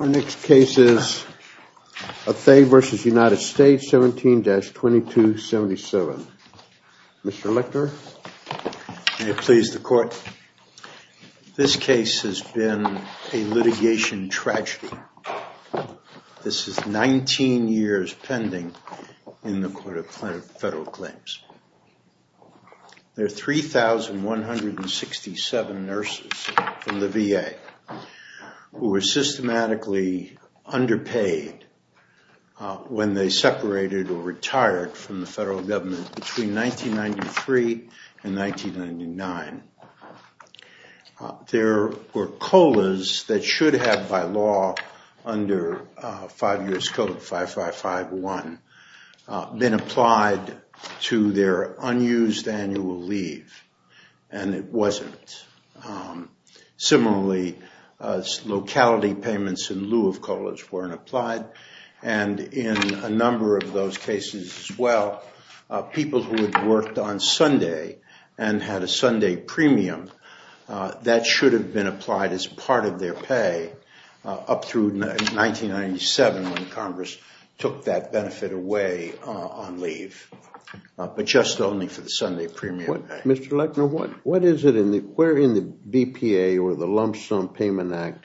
Our next case is Othea v. United States 17-2277. Mr. Lector. May it please the court. This case has been a litigation tragedy. This is 19 years pending in the court of federal claims. There are 3,167 nurses in the VA who were systematically underpaid when they separated or retired from the federal government between 1993 and 1999. There were COLAs that should have, by law, under 5 years code 5551, been applied to their unused annual leave, and it wasn't. Similarly, locality payments in lieu of COLAs weren't applied, and in a number of those cases, as well, people who had worked on Sunday and had a Sunday premium, that should have been applied as part of their pay up through 1997 when Congress took that benefit away on leave, but just only for the Sunday premium. Mr. Lector, where in the BPA or the Lump Sum Payment Act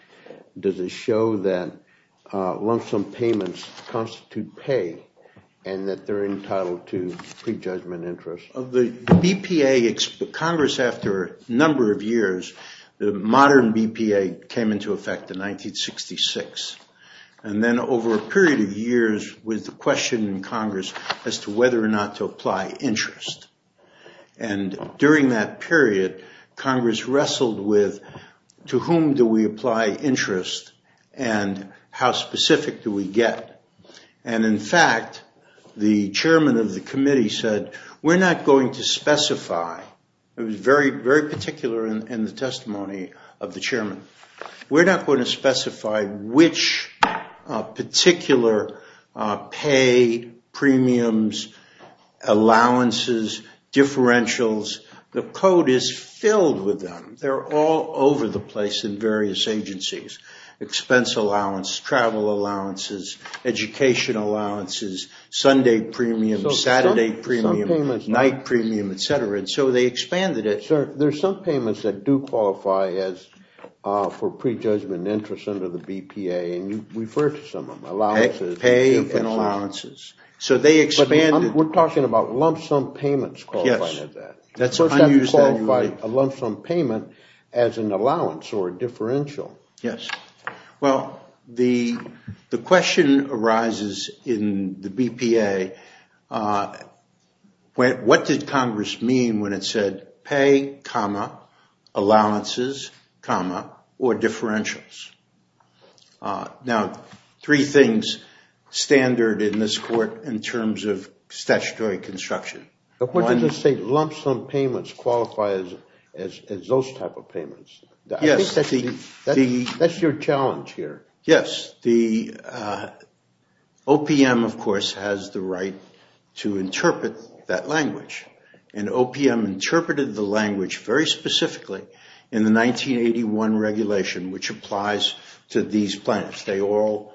does it show that lump sum payments constitute pay and that they're entitled to prejudgment interest? Of the BPA, Congress, after a number of years, the modern BPA came into effect in 1966, and then over a period of years with the question in Congress as to whether or not to apply interest. And during that period, Congress wrestled with to whom do we apply interest and how specific do we get, and in fact, the chairman of the committee said, we're not going to specify. It was very particular in the testimony of the chairman. We're not going to specify which particular pay, premiums, allowances, differentials. The code is filled with them. They're all over the place in various agencies, expense allowance, travel allowances, education allowances, Sunday premium, Saturday premium, night premium, et cetera, and so they expanded it. Sir, there's some payments that do qualify as for prejudgment interest under the BPA, and you referred to some of them, allowances. Pay and allowances. So they expanded. We're talking about lump sum payments qualified as that. That's unused value. Of course, that would qualify a lump sum payment as an allowance or a differential. Yes. Well, the question arises in the BPA, what did Congress mean when it said pay, allowances, or differentials? Now, three things standard in this court in terms of statutory construction. But what did it say, lump sum payments qualify as those type of payments? Yes. I think that's your challenge here. Yes. The OPM, of course, has the right to interpret that language, and OPM interpreted the language very specifically in the 1981 regulation, which applies to these plans. They all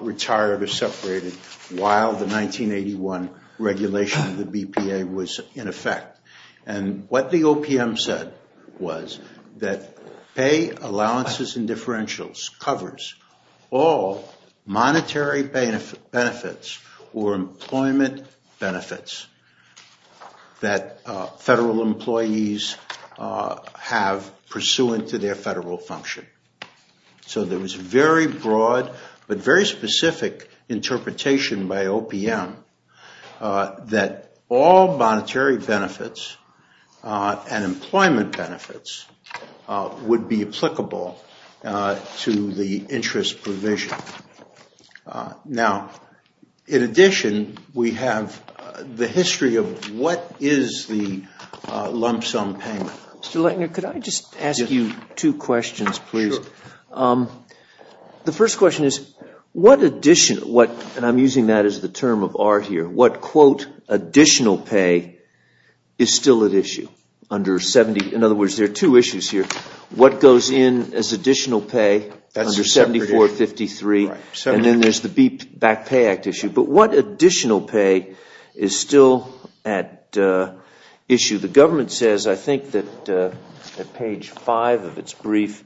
retired or separated while the 1981 regulation of the BPA was in effect. And what the OPM said was that pay, allowances, and differentials covers all monetary benefits or employment benefits that federal employees have pursuant to their federal function. So there was a very broad but very specific interpretation by OPM that all monetary benefits and employment benefits would be applicable to the interest provision. Now, in addition, we have the history of what is the lump sum payment. Mr. Leitner, could I just ask you two questions, please? The first question is, what additional, and I'm using that as the term of art here, what quote additional pay is still at issue under 70, in other words, there are two issues here. What goes in as additional pay under 7453, and then there's the BPAC Pay Act issue. But what additional pay is still at issue? The government says, I think that at page five of its brief,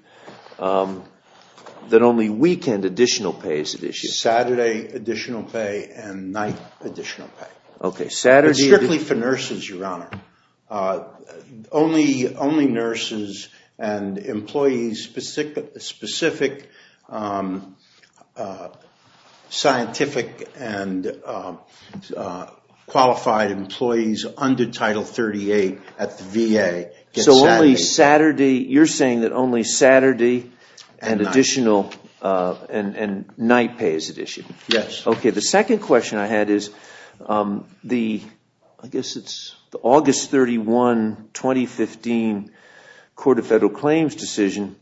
that only weekend additional pay is at issue. Saturday additional pay and night additional pay. Okay, Saturday. Strictly for nurses, Your Honor. Only nurses and employees, specific scientific and qualified employees under Title 38 at the VA. So only Saturday, you're saying that only Saturday and additional, and night pay is at issue? Yes. The second question I had is, the August 31, 2015 Court of Federal Claims decision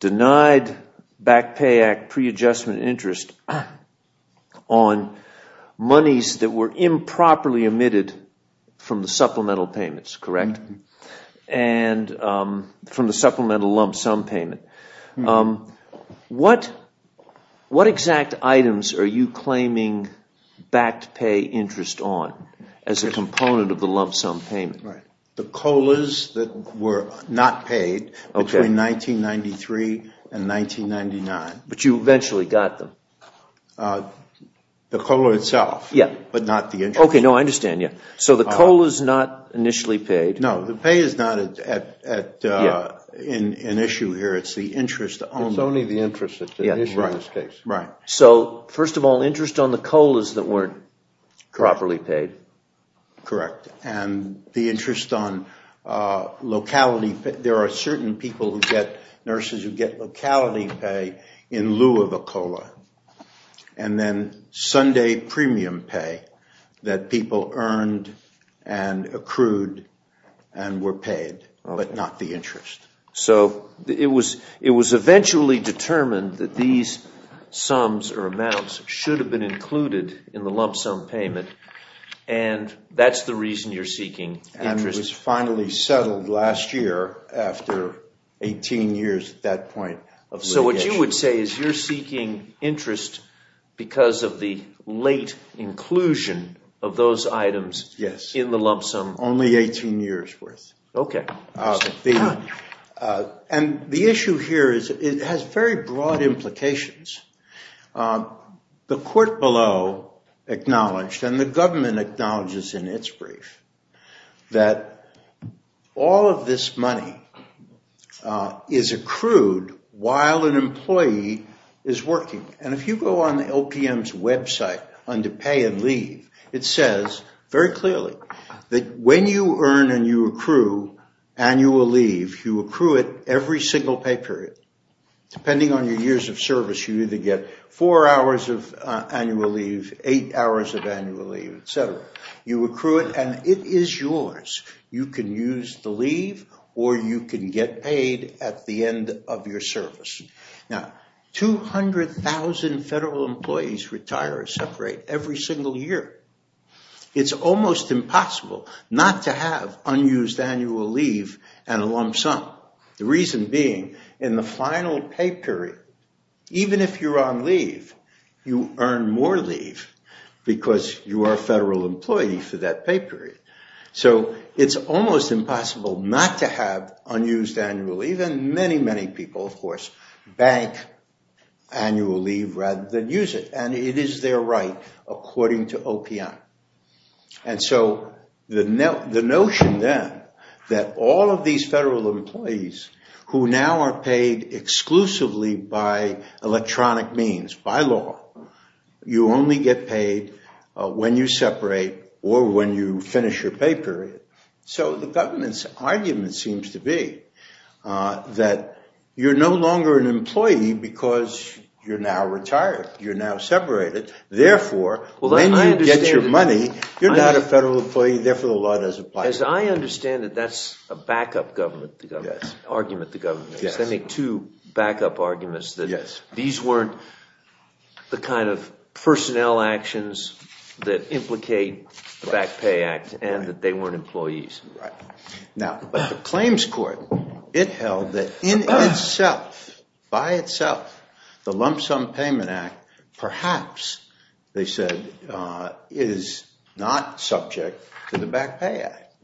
denied the BPAC Pay Act pre-adjustment interest on monies that were improperly omitted from the supplemental payments, correct? From the supplemental lump sum payment. What exact items are you claiming backed pay interest on as a component of the lump sum payment? The COLAs that were not paid between 1993 and 1999. But you eventually got them? The COLA itself, but not the interest. Okay, I understand. So the COLA is not initially paid. No, the pay is not an issue here, it's the interest only. It's only the interest that's at issue in this case. Right. So, first of all, interest on the COLAs that weren't properly paid. Correct. And the interest on locality, there are certain people who get, nurses who get locality pay in lieu of a COLA. And then Sunday premium pay that people earned and accrued and were paid, but not the interest. So, it was eventually determined that these sums or amounts should have been included in the lump sum payment, and that's the reason you're seeking interest? And it was finally settled last year, after 18 years at that point. So what you would say is you're seeking interest because of the late inclusion of those items in the lump sum? Yes, only 18 years worth. Okay. And the issue here is, it has very broad implications. The court below acknowledged, and the government acknowledges in its brief, that all of this money is accrued while an employee is working. And if you go on the LPM's website under pay and leave, it says very clearly that when you earn and you accrue annual leave, you accrue it every single pay period. Depending on your years of service, you either get four hours of annual leave, eight hours of annual leave, et cetera. You accrue it, and it is yours. You can use the leave, or you can get paid at the end of your service. Now, 200,000 federal employees retire or separate every single year. It's almost impossible not to have unused annual leave and a lump sum. The reason being, in the final pay period, even if you're on leave, you earn more leave because you are a federal employee for that pay period. So it's almost impossible not to have unused annual leave. And many, many people, of course, bank annual leave rather than use it. And it is their right according to LPM. And so the notion then that all of these federal employees who now are paid exclusively by electronic means, by law, you only get paid when you separate or when you finish your pay period. So the government's argument seems to be that you're no longer an employee because you're now retired. You're now separated. Therefore, when you get your money, you're not a federal employee. Therefore, the law doesn't apply. As I understand it, that's a backup argument the government makes. They make two backup arguments that these weren't the kind of personnel actions that implicate the Back Pay Act and that they weren't employees. Right. Now, but the claims court, it held that in itself, by itself, the Lump Sum Payment Act perhaps, they said, is not subject to the Back Pay Act.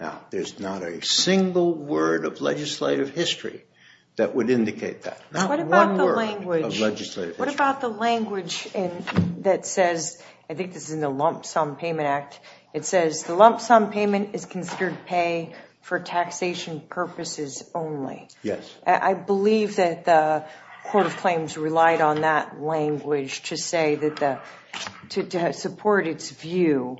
Now, there's not a single word of legislative history that would indicate that. Not one word of legislative history. What about the language that says, I think this is in the Lump Sum Payment Act, it says the Lump Sum Payment is considered pay for taxation purposes only. Yes. I believe that the Court of Claims relied on that language to say that the, to support its view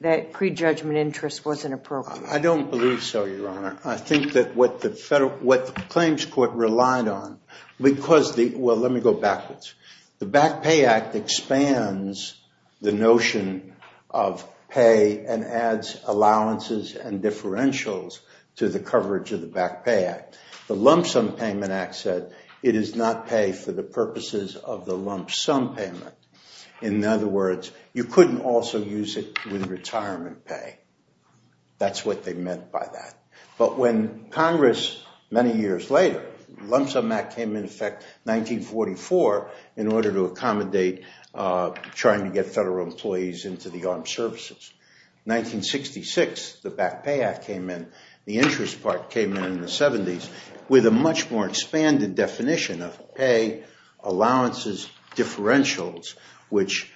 that prejudgment interest wasn't appropriate. I don't believe so, Your Honor. I think that what the claims court relied on, because the, well, let me go backwards. The Back Pay Act expands the notion of pay and adds allowances and differentials to the coverage of the Back Pay Act. The Lump Sum Payment Act said it is not pay for the purposes of the Lump Sum Payment. In other words, you couldn't also use it with retirement pay. That's what they meant by that. But when Congress, many years later, Lump Sum Act came into effect in 1944 in order to accommodate trying to get federal employees into the armed services. 1966, the Back Pay Act came in, the interest part came in in the 70s with a much more expanded definition of pay, allowances, differentials, which,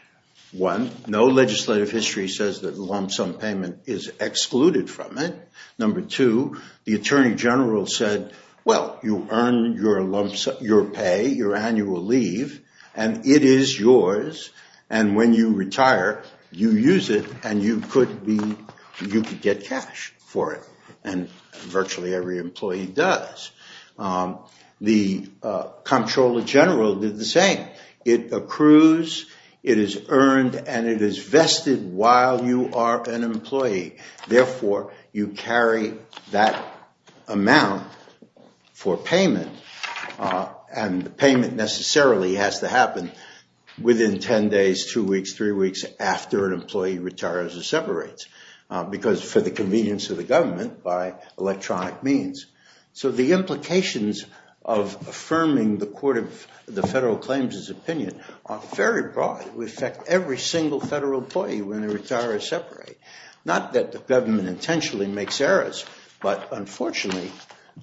one, no legislative history says that Lump Sum Payment is excluded from it. Number two, the Attorney General said, well, you earn your pay, your annual leave, and it is yours, and when you retire, you use it, and you could be, you could get cash for it. And virtually every employee does. The Comptroller General did the same. It accrues, it is earned, and it is vested while you are an employee. Therefore, you carry that amount for payment, and the payment necessarily has to happen within ten days, two weeks, three weeks, after an employee retires or separates. Because for the convenience of the government, by electronic means. So the implications of affirming the Court of the Federal Claims' opinion are very broad. We affect every single federal employee when they retire or separate. Not that the government intentionally makes errors, but unfortunately,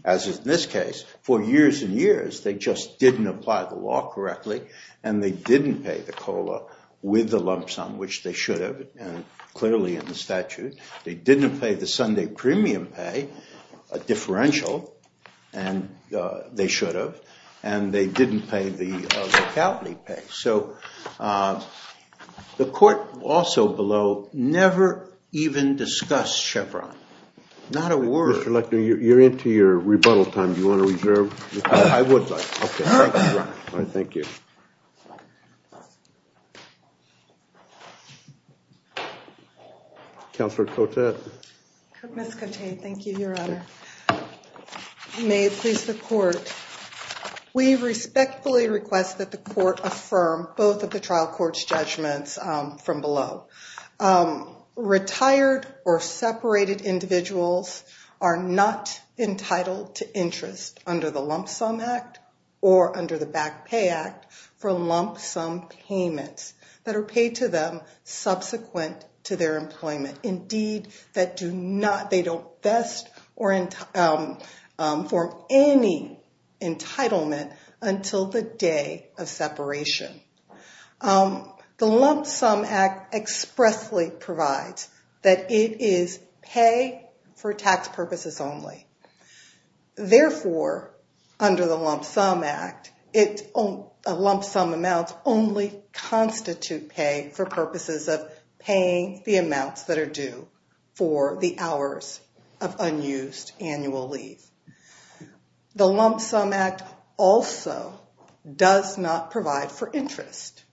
as in this case, for years and years, they just didn't apply the law correctly, and they didn't pay the COLA with the Lump Sum, which they should have, and clearly in the statute. They didn't pay the Sunday premium pay, a differential, and they should have. And they didn't pay the Calpany pay. So the Court also below never even discussed Chevron. Not a word. Mr. Leckner, you're into your rebuttal time. Do you want to reserve? I would like to. Okay, thank you, Ron. All right, thank you. Counselor Cotet. Ms. Cotet, thank you, Your Honor. May it please the Court. We respectfully request that the Court affirm both of the trial court's judgments from below. Retired or separated individuals are not entitled to interest under the Lump Sum Act or under the Back Pay Act for lump sum payments that are paid to them subsequent to their employment. Indeed, they don't vest or form any entitlement until the day of separation. The Lump Sum Act expressly provides that it is pay for tax purposes only. Therefore, under the Lump Sum Act, lump sum amounts only constitute pay for purposes of paying the amounts that are due for the hours of unused annual leave. The Lump Sum Act also does not provide for interest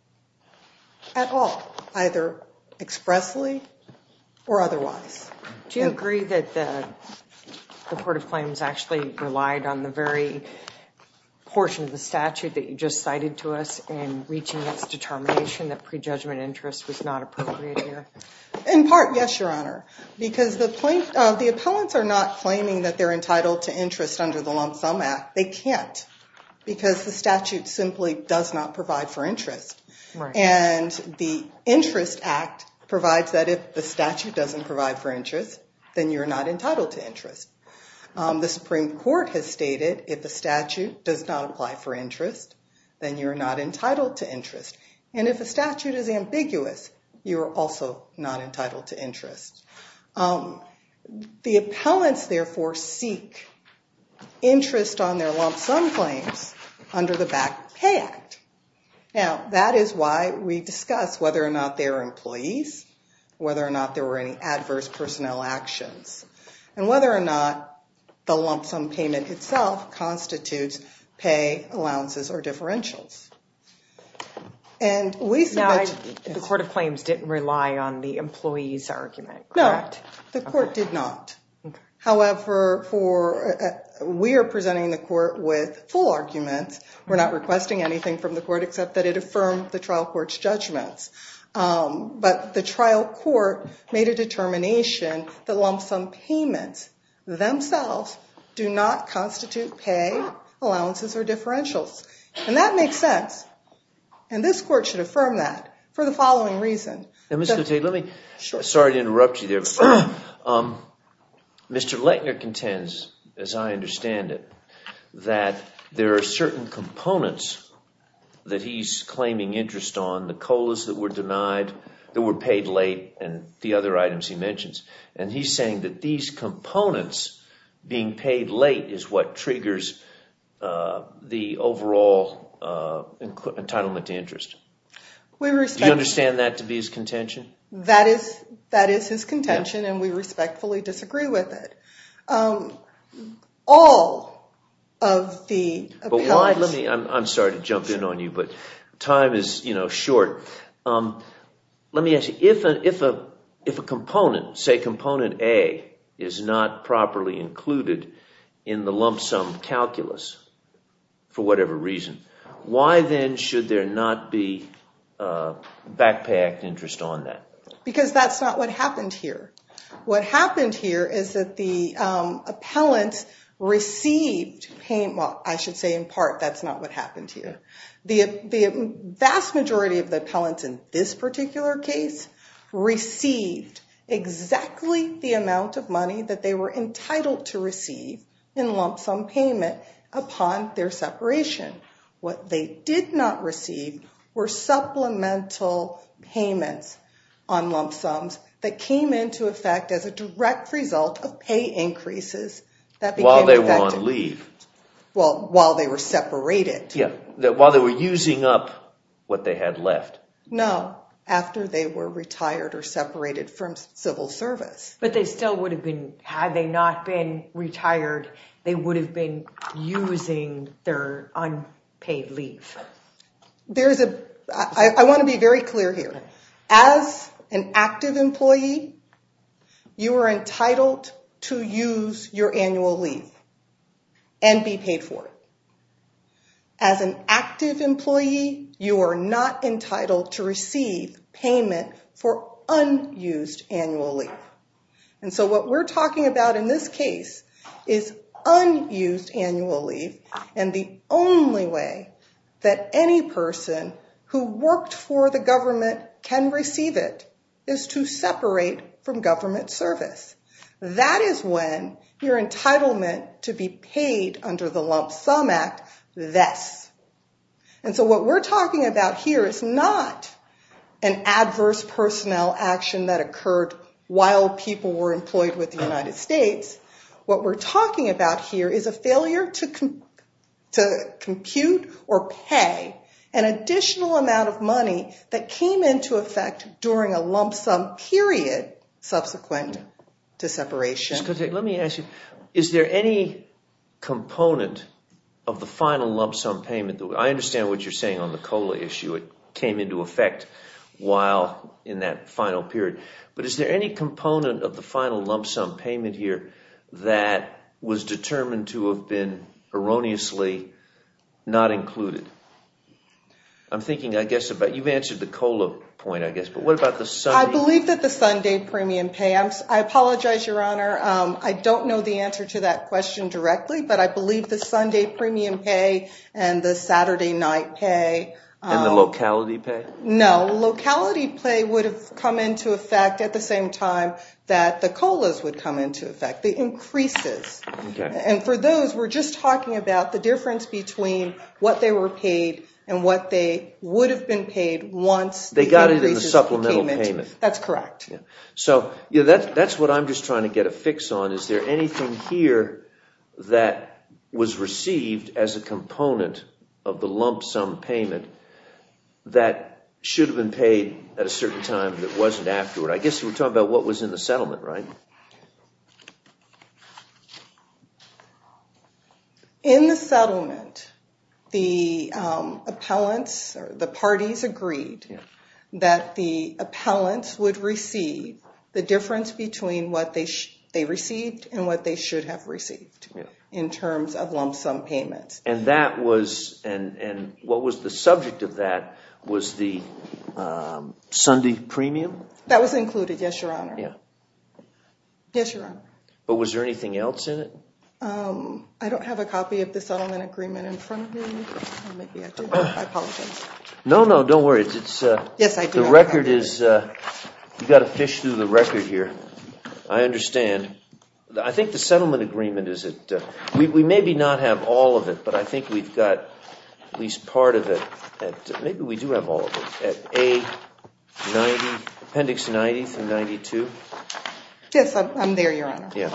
at all, either expressly or otherwise. Do you agree that the Court of Claims actually relied on the very portion of the statute that you just cited to us in reaching its determination that prejudgment interest was not appropriate here? In part, yes, Your Honor. Because the appellants are not claiming that they're entitled to interest under the Lump Sum Act. They can't because the statute simply does not provide for interest. And the Interest Act provides that if the statute doesn't provide for interest, then you're not entitled to interest. The Supreme Court has stated if the statute does not apply for interest, then you're not entitled to interest. And if a statute is ambiguous, you're also not entitled to interest. The appellants, therefore, seek interest on their lump sum claims under the Back Pay Act. Now, that is why we discuss whether or not they are employees, whether or not there were any adverse personnel actions, and whether or not the lump sum payment itself constitutes pay allowances or differentials. Now, the Court of Claims didn't rely on the employees argument, correct? No, the Court did not. However, we are presenting the court with full arguments. We're not requesting anything from the court except that it affirmed the trial court's judgments. But the trial court made a determination that lump sum payments themselves do not constitute pay allowances or differentials. And that makes sense. And this court should affirm that for the following reason. Sorry to interrupt you there. Mr. Lettner contends, as I understand it, that there are certain components that he's claiming interest on, the COLAs that were denied, that were paid late, and the other items he mentions. And he's saying that these components, being paid late, is what triggers the overall entitlement to interest. Do you understand that to be his contention? That is his contention, and we respectfully disagree with it. I'm sorry to jump in on you, but time is short. Let me ask you, if a component, say component A, is not properly included in the lump sum calculus for whatever reason, why then should there not be a back pay act interest on that? Because that's not what happened here. What happened here is that the appellant received, I should say in part, that's not what happened here. The vast majority of the appellants in this particular case received exactly the amount of money that they were entitled to receive in lump sum payment upon their separation. What they did not receive were supplemental payments on lump sums that came into effect as a direct result of pay increases. While they were on leave. Well, while they were separated. Yeah, while they were using up what they had left. No, after they were retired or separated from civil service. But they still would have been, had they not been retired, they would have been using their unpaid leave. I want to be very clear here. As an active employee, you are entitled to use your annual leave and be paid for it. As an active employee, you are not entitled to receive payment for unused annual leave. And so what we're talking about in this case is unused annual leave. And the only way that any person who worked for the government can receive it is to separate from government service. That is when your entitlement to be paid under the Lump Sum Act, this. And so what we're talking about here is not an adverse personnel action that occurred while people were employed with the United States. What we're talking about here is a failure to compute or pay an additional amount of money that came into effect during a lump sum period subsequent to separation. Let me ask you, is there any component of the final lump sum payment? I understand what you're saying on the COLA issue. It came into effect while in that final period. But is there any component of the final lump sum payment here that was determined to have been erroneously not included? You've answered the COLA point, I guess. I believe that the Sunday premium pay. I apologize, Your Honor. I don't know the answer to that question directly, but I believe the Sunday premium pay and the Saturday night pay. And the locality pay? No, locality pay would have come into effect at the same time that the COLAs would come into effect, the increases. And for those, we're just talking about the difference between what they were paid and what they would have been paid once the increases came into effect. They got it in the supplemental payment. That's correct. That's what I'm just trying to get a fix on. Is there anything here that was received as a component of the lump sum payment that should have been paid at a certain time that wasn't afterward? I guess you were talking about what was in the settlement, right? In the settlement, the appellants, the parties agreed that the appellants would receive the difference between what they received and what they should have received in terms of lump sum payments. And that was, and what was the subject of that was the Sunday premium? That was included, yes, Your Honor. Yes, Your Honor. But was there anything else in it? I don't have a copy of the settlement agreement in front of me. Maybe I do. I apologize. No, no, don't worry. Yes, I do. The record is, you've got to fish through the record here. I understand. I think the settlement agreement, we maybe not have all of it, but I think we've got at least part of it. Maybe we do have all of it. At A, 90, appendix 90 through 92? Yes, I'm there, Your Honor. Yeah. Okay.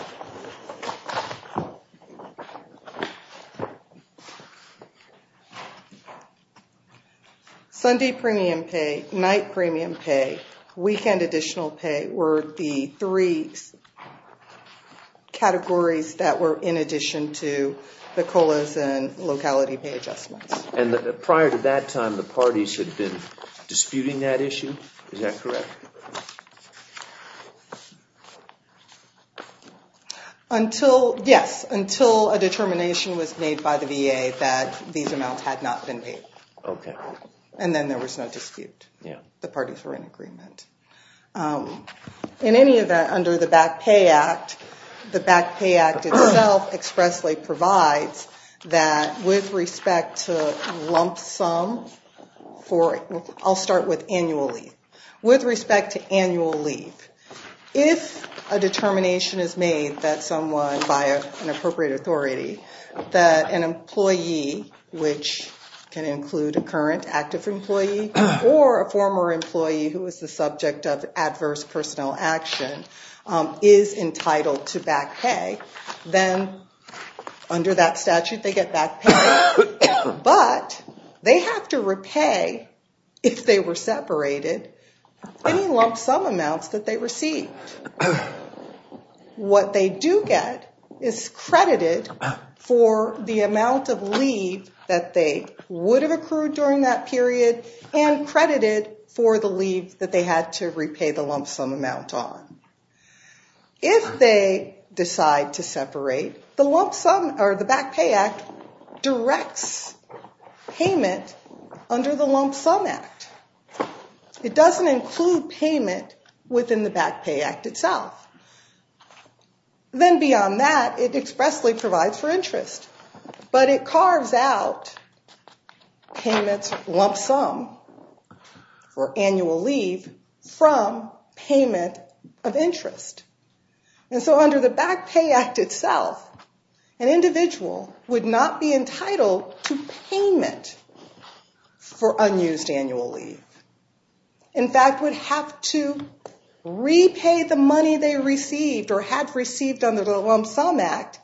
Sunday premium pay, night premium pay, weekend additional pay were the three categories that were in addition to the COLAs and locality pay adjustments. And prior to that time, the parties had been disputing that issue? Is that correct? Yes, until a determination was made by the VA that these amounts had not been paid. Okay. And then there was no dispute. Yeah. The parties were in agreement. In any event, under the Back Pay Act, the Back Pay Act itself expressly provides that with respect to lump sum, I'll start with annual leave. With respect to annual leave, if a determination is made that someone, by an appropriate authority, that an employee, which can include a current active employee, or a former employee who is the subject of adverse personal action, is entitled to back pay, then under that statute they get back pay. But they have to repay, if they were separated, any lump sum amounts that they received. What they do get is credited for the amount of leave that they would have accrued during that period and credited for the leave that they had to repay the lump sum amount on. If they decide to separate, the Back Pay Act directs payment under the Lump Sum Act. It doesn't include payment within the Back Pay Act itself. Then beyond that, it expressly provides for interest, but it carves out payments lump sum for annual leave from payment of interest. And so under the Back Pay Act itself, an individual would not be entitled to payment for unused annual leave. In fact, would have to repay the money they received or had received under the Lump Sum Act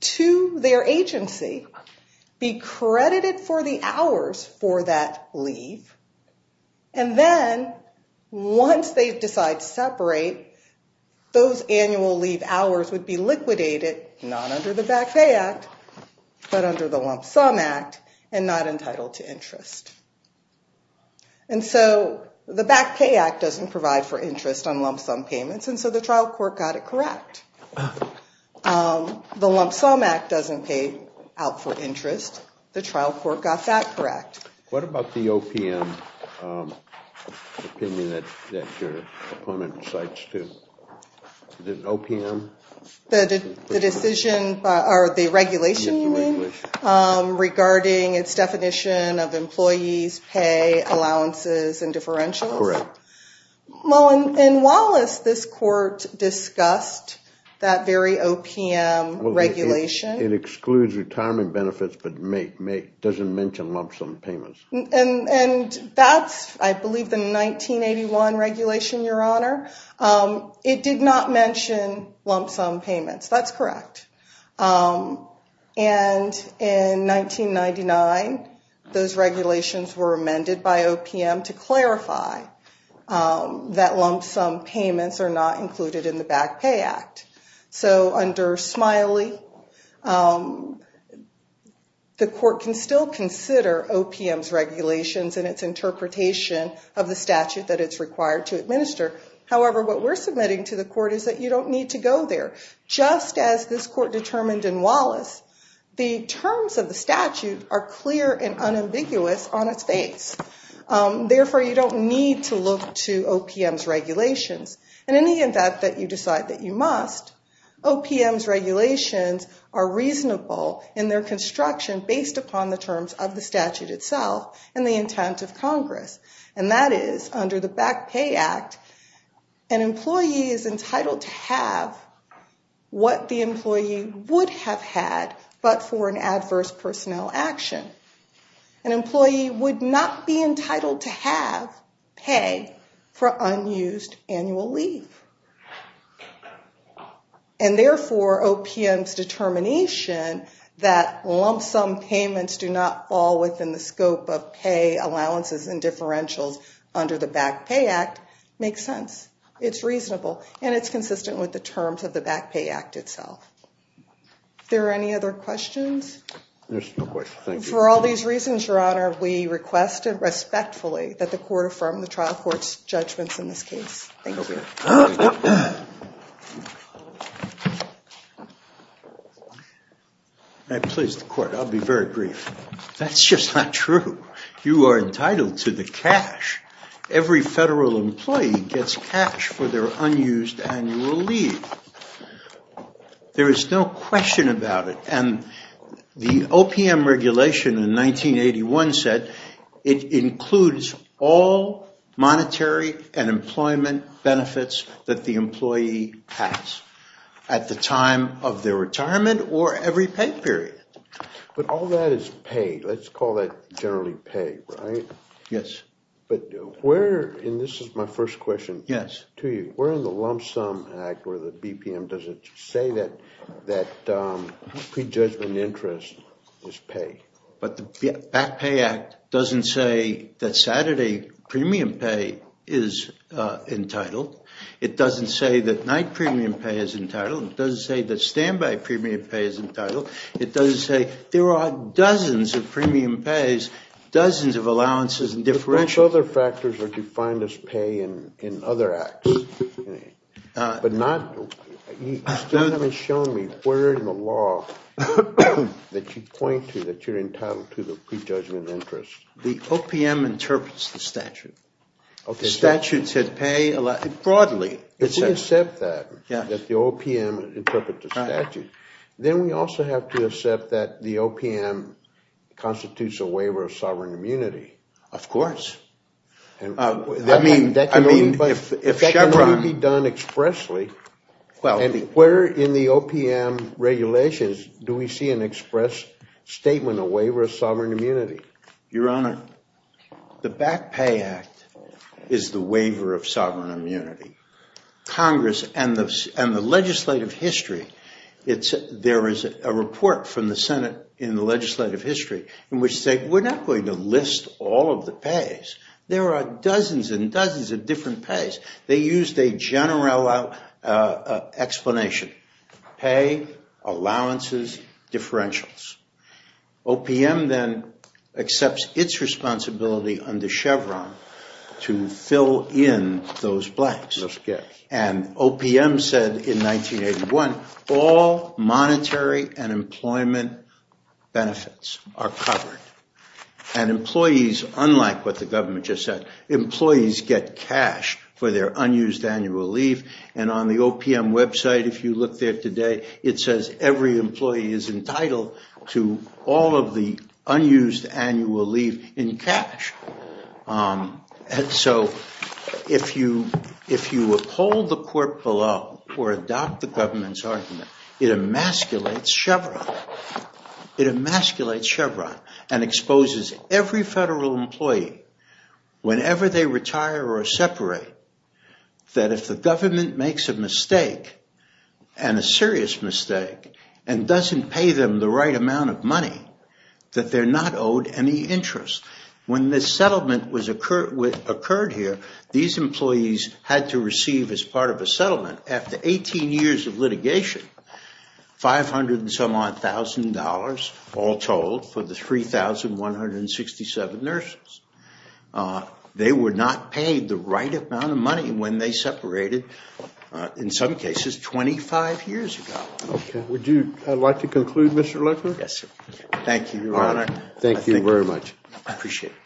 to their agency, be credited for the hours for that leave, and then once they decide to separate, those annual leave hours would be liquidated, not under the Back Pay Act, but under the Lump Sum Act, and not entitled to interest. And so the Back Pay Act doesn't provide for interest on lump sum payments, and so the trial court got it correct. The Lump Sum Act doesn't pay out for interest. The trial court got that correct. What about the OPM opinion that your opponent cites, too? The OPM? The decision, or the regulation, you mean, regarding its definition of employees' pay allowances and differentials? Correct. Well, in Wallace, this court discussed that very OPM regulation. It excludes retirement benefits, but doesn't mention lump sum payments. And that's, I believe, the 1981 regulation, Your Honor. It did not mention lump sum payments. That's correct. And in 1999, those regulations were amended by OPM to clarify that lump sum payments are not included in the Back Pay Act. So under Smiley, the court can still consider OPM's regulations and its interpretation of the statute that it's required to administer. However, what we're submitting to the court is that you don't need to go there. Just as this court determined in Wallace, the terms of the statute are clear and unambiguous on its face. Therefore, you don't need to look to OPM's regulations. In any event that you decide that you must, OPM's regulations are reasonable in their construction based upon the terms of the statute itself and the intent of Congress. And that is, under the Back Pay Act, an employee is entitled to have what the employee would have had, but for an adverse personnel action. An employee would not be entitled to have pay for unused annual leave. And therefore, OPM's determination that lump sum payments do not fall within the scope of pay allowances and differentials under the Back Pay Act makes sense. It's reasonable and it's consistent with the terms of the Back Pay Act itself. Are there any other questions? There's no question. Thank you. For all these reasons, Your Honor, we request respectfully that the court affirm the trial court's judgments in this case. Thank you. May I please the court? I'll be very brief. That's just not true. You are entitled to the cash. Every federal employee gets cash for their unused annual leave. There is no question about it. And the OPM regulation in 1981 said it includes all monetary and employment benefits that the employee has at the time of their retirement or every pay period. But all that is pay. Let's call that generally pay, right? Yes. And this is my first question to you. Yes. Where in the lump sum act or the BPM does it say that prejudgment interest is pay? But the Back Pay Act doesn't say that Saturday premium pay is entitled. It doesn't say that night premium pay is entitled. It doesn't say that standby premium pay is entitled. It doesn't say there are dozens of premium pays, dozens of allowances and differentials. But those other factors are defined as pay in other acts. But not you still haven't shown me where in the law that you point to that you're entitled to the prejudgment interest. The OPM interprets the statute. The statute said pay broadly. If we accept that, that the OPM interprets the statute, then we also have to accept that the OPM constitutes a waiver of sovereign immunity. Of course. I mean, if Chevron. That can only be done expressly. Where in the OPM regulations do we see an express statement, a waiver of sovereign immunity? Your Honor, the Back Pay Act is the waiver of sovereign immunity. Congress and the legislative history. There is a report from the Senate in the legislative history in which they were not going to list all of the pays. There are dozens and dozens of different pays. They used a general explanation. Pay, allowances, differentials. OPM then accepts its responsibility under Chevron to fill in those blanks. And OPM said in 1981, all monetary and employment benefits are covered. And employees, unlike what the government just said, employees get cash for their unused annual leave. And on the OPM website, if you look there today, it says every employee is entitled to all of the unused annual leave in cash. And so if you uphold the court below or adopt the government's argument, it emasculates Chevron. It emasculates Chevron and exposes every federal employee, whenever they retire or separate, that if the government makes a mistake, and a serious mistake, and doesn't pay them the right amount of money, that they're not owed any interest. When this settlement occurred here, these employees had to receive as part of a settlement, after 18 years of litigation, 500 and some odd thousand dollars, all told, for the 3,167 nurses. They were not paid the right amount of money when they separated, in some cases, 25 years ago. Okay. Would you like to conclude, Mr. Legler? Yes, sir. Thank you, Your Honor. Thank you very much. I appreciate it.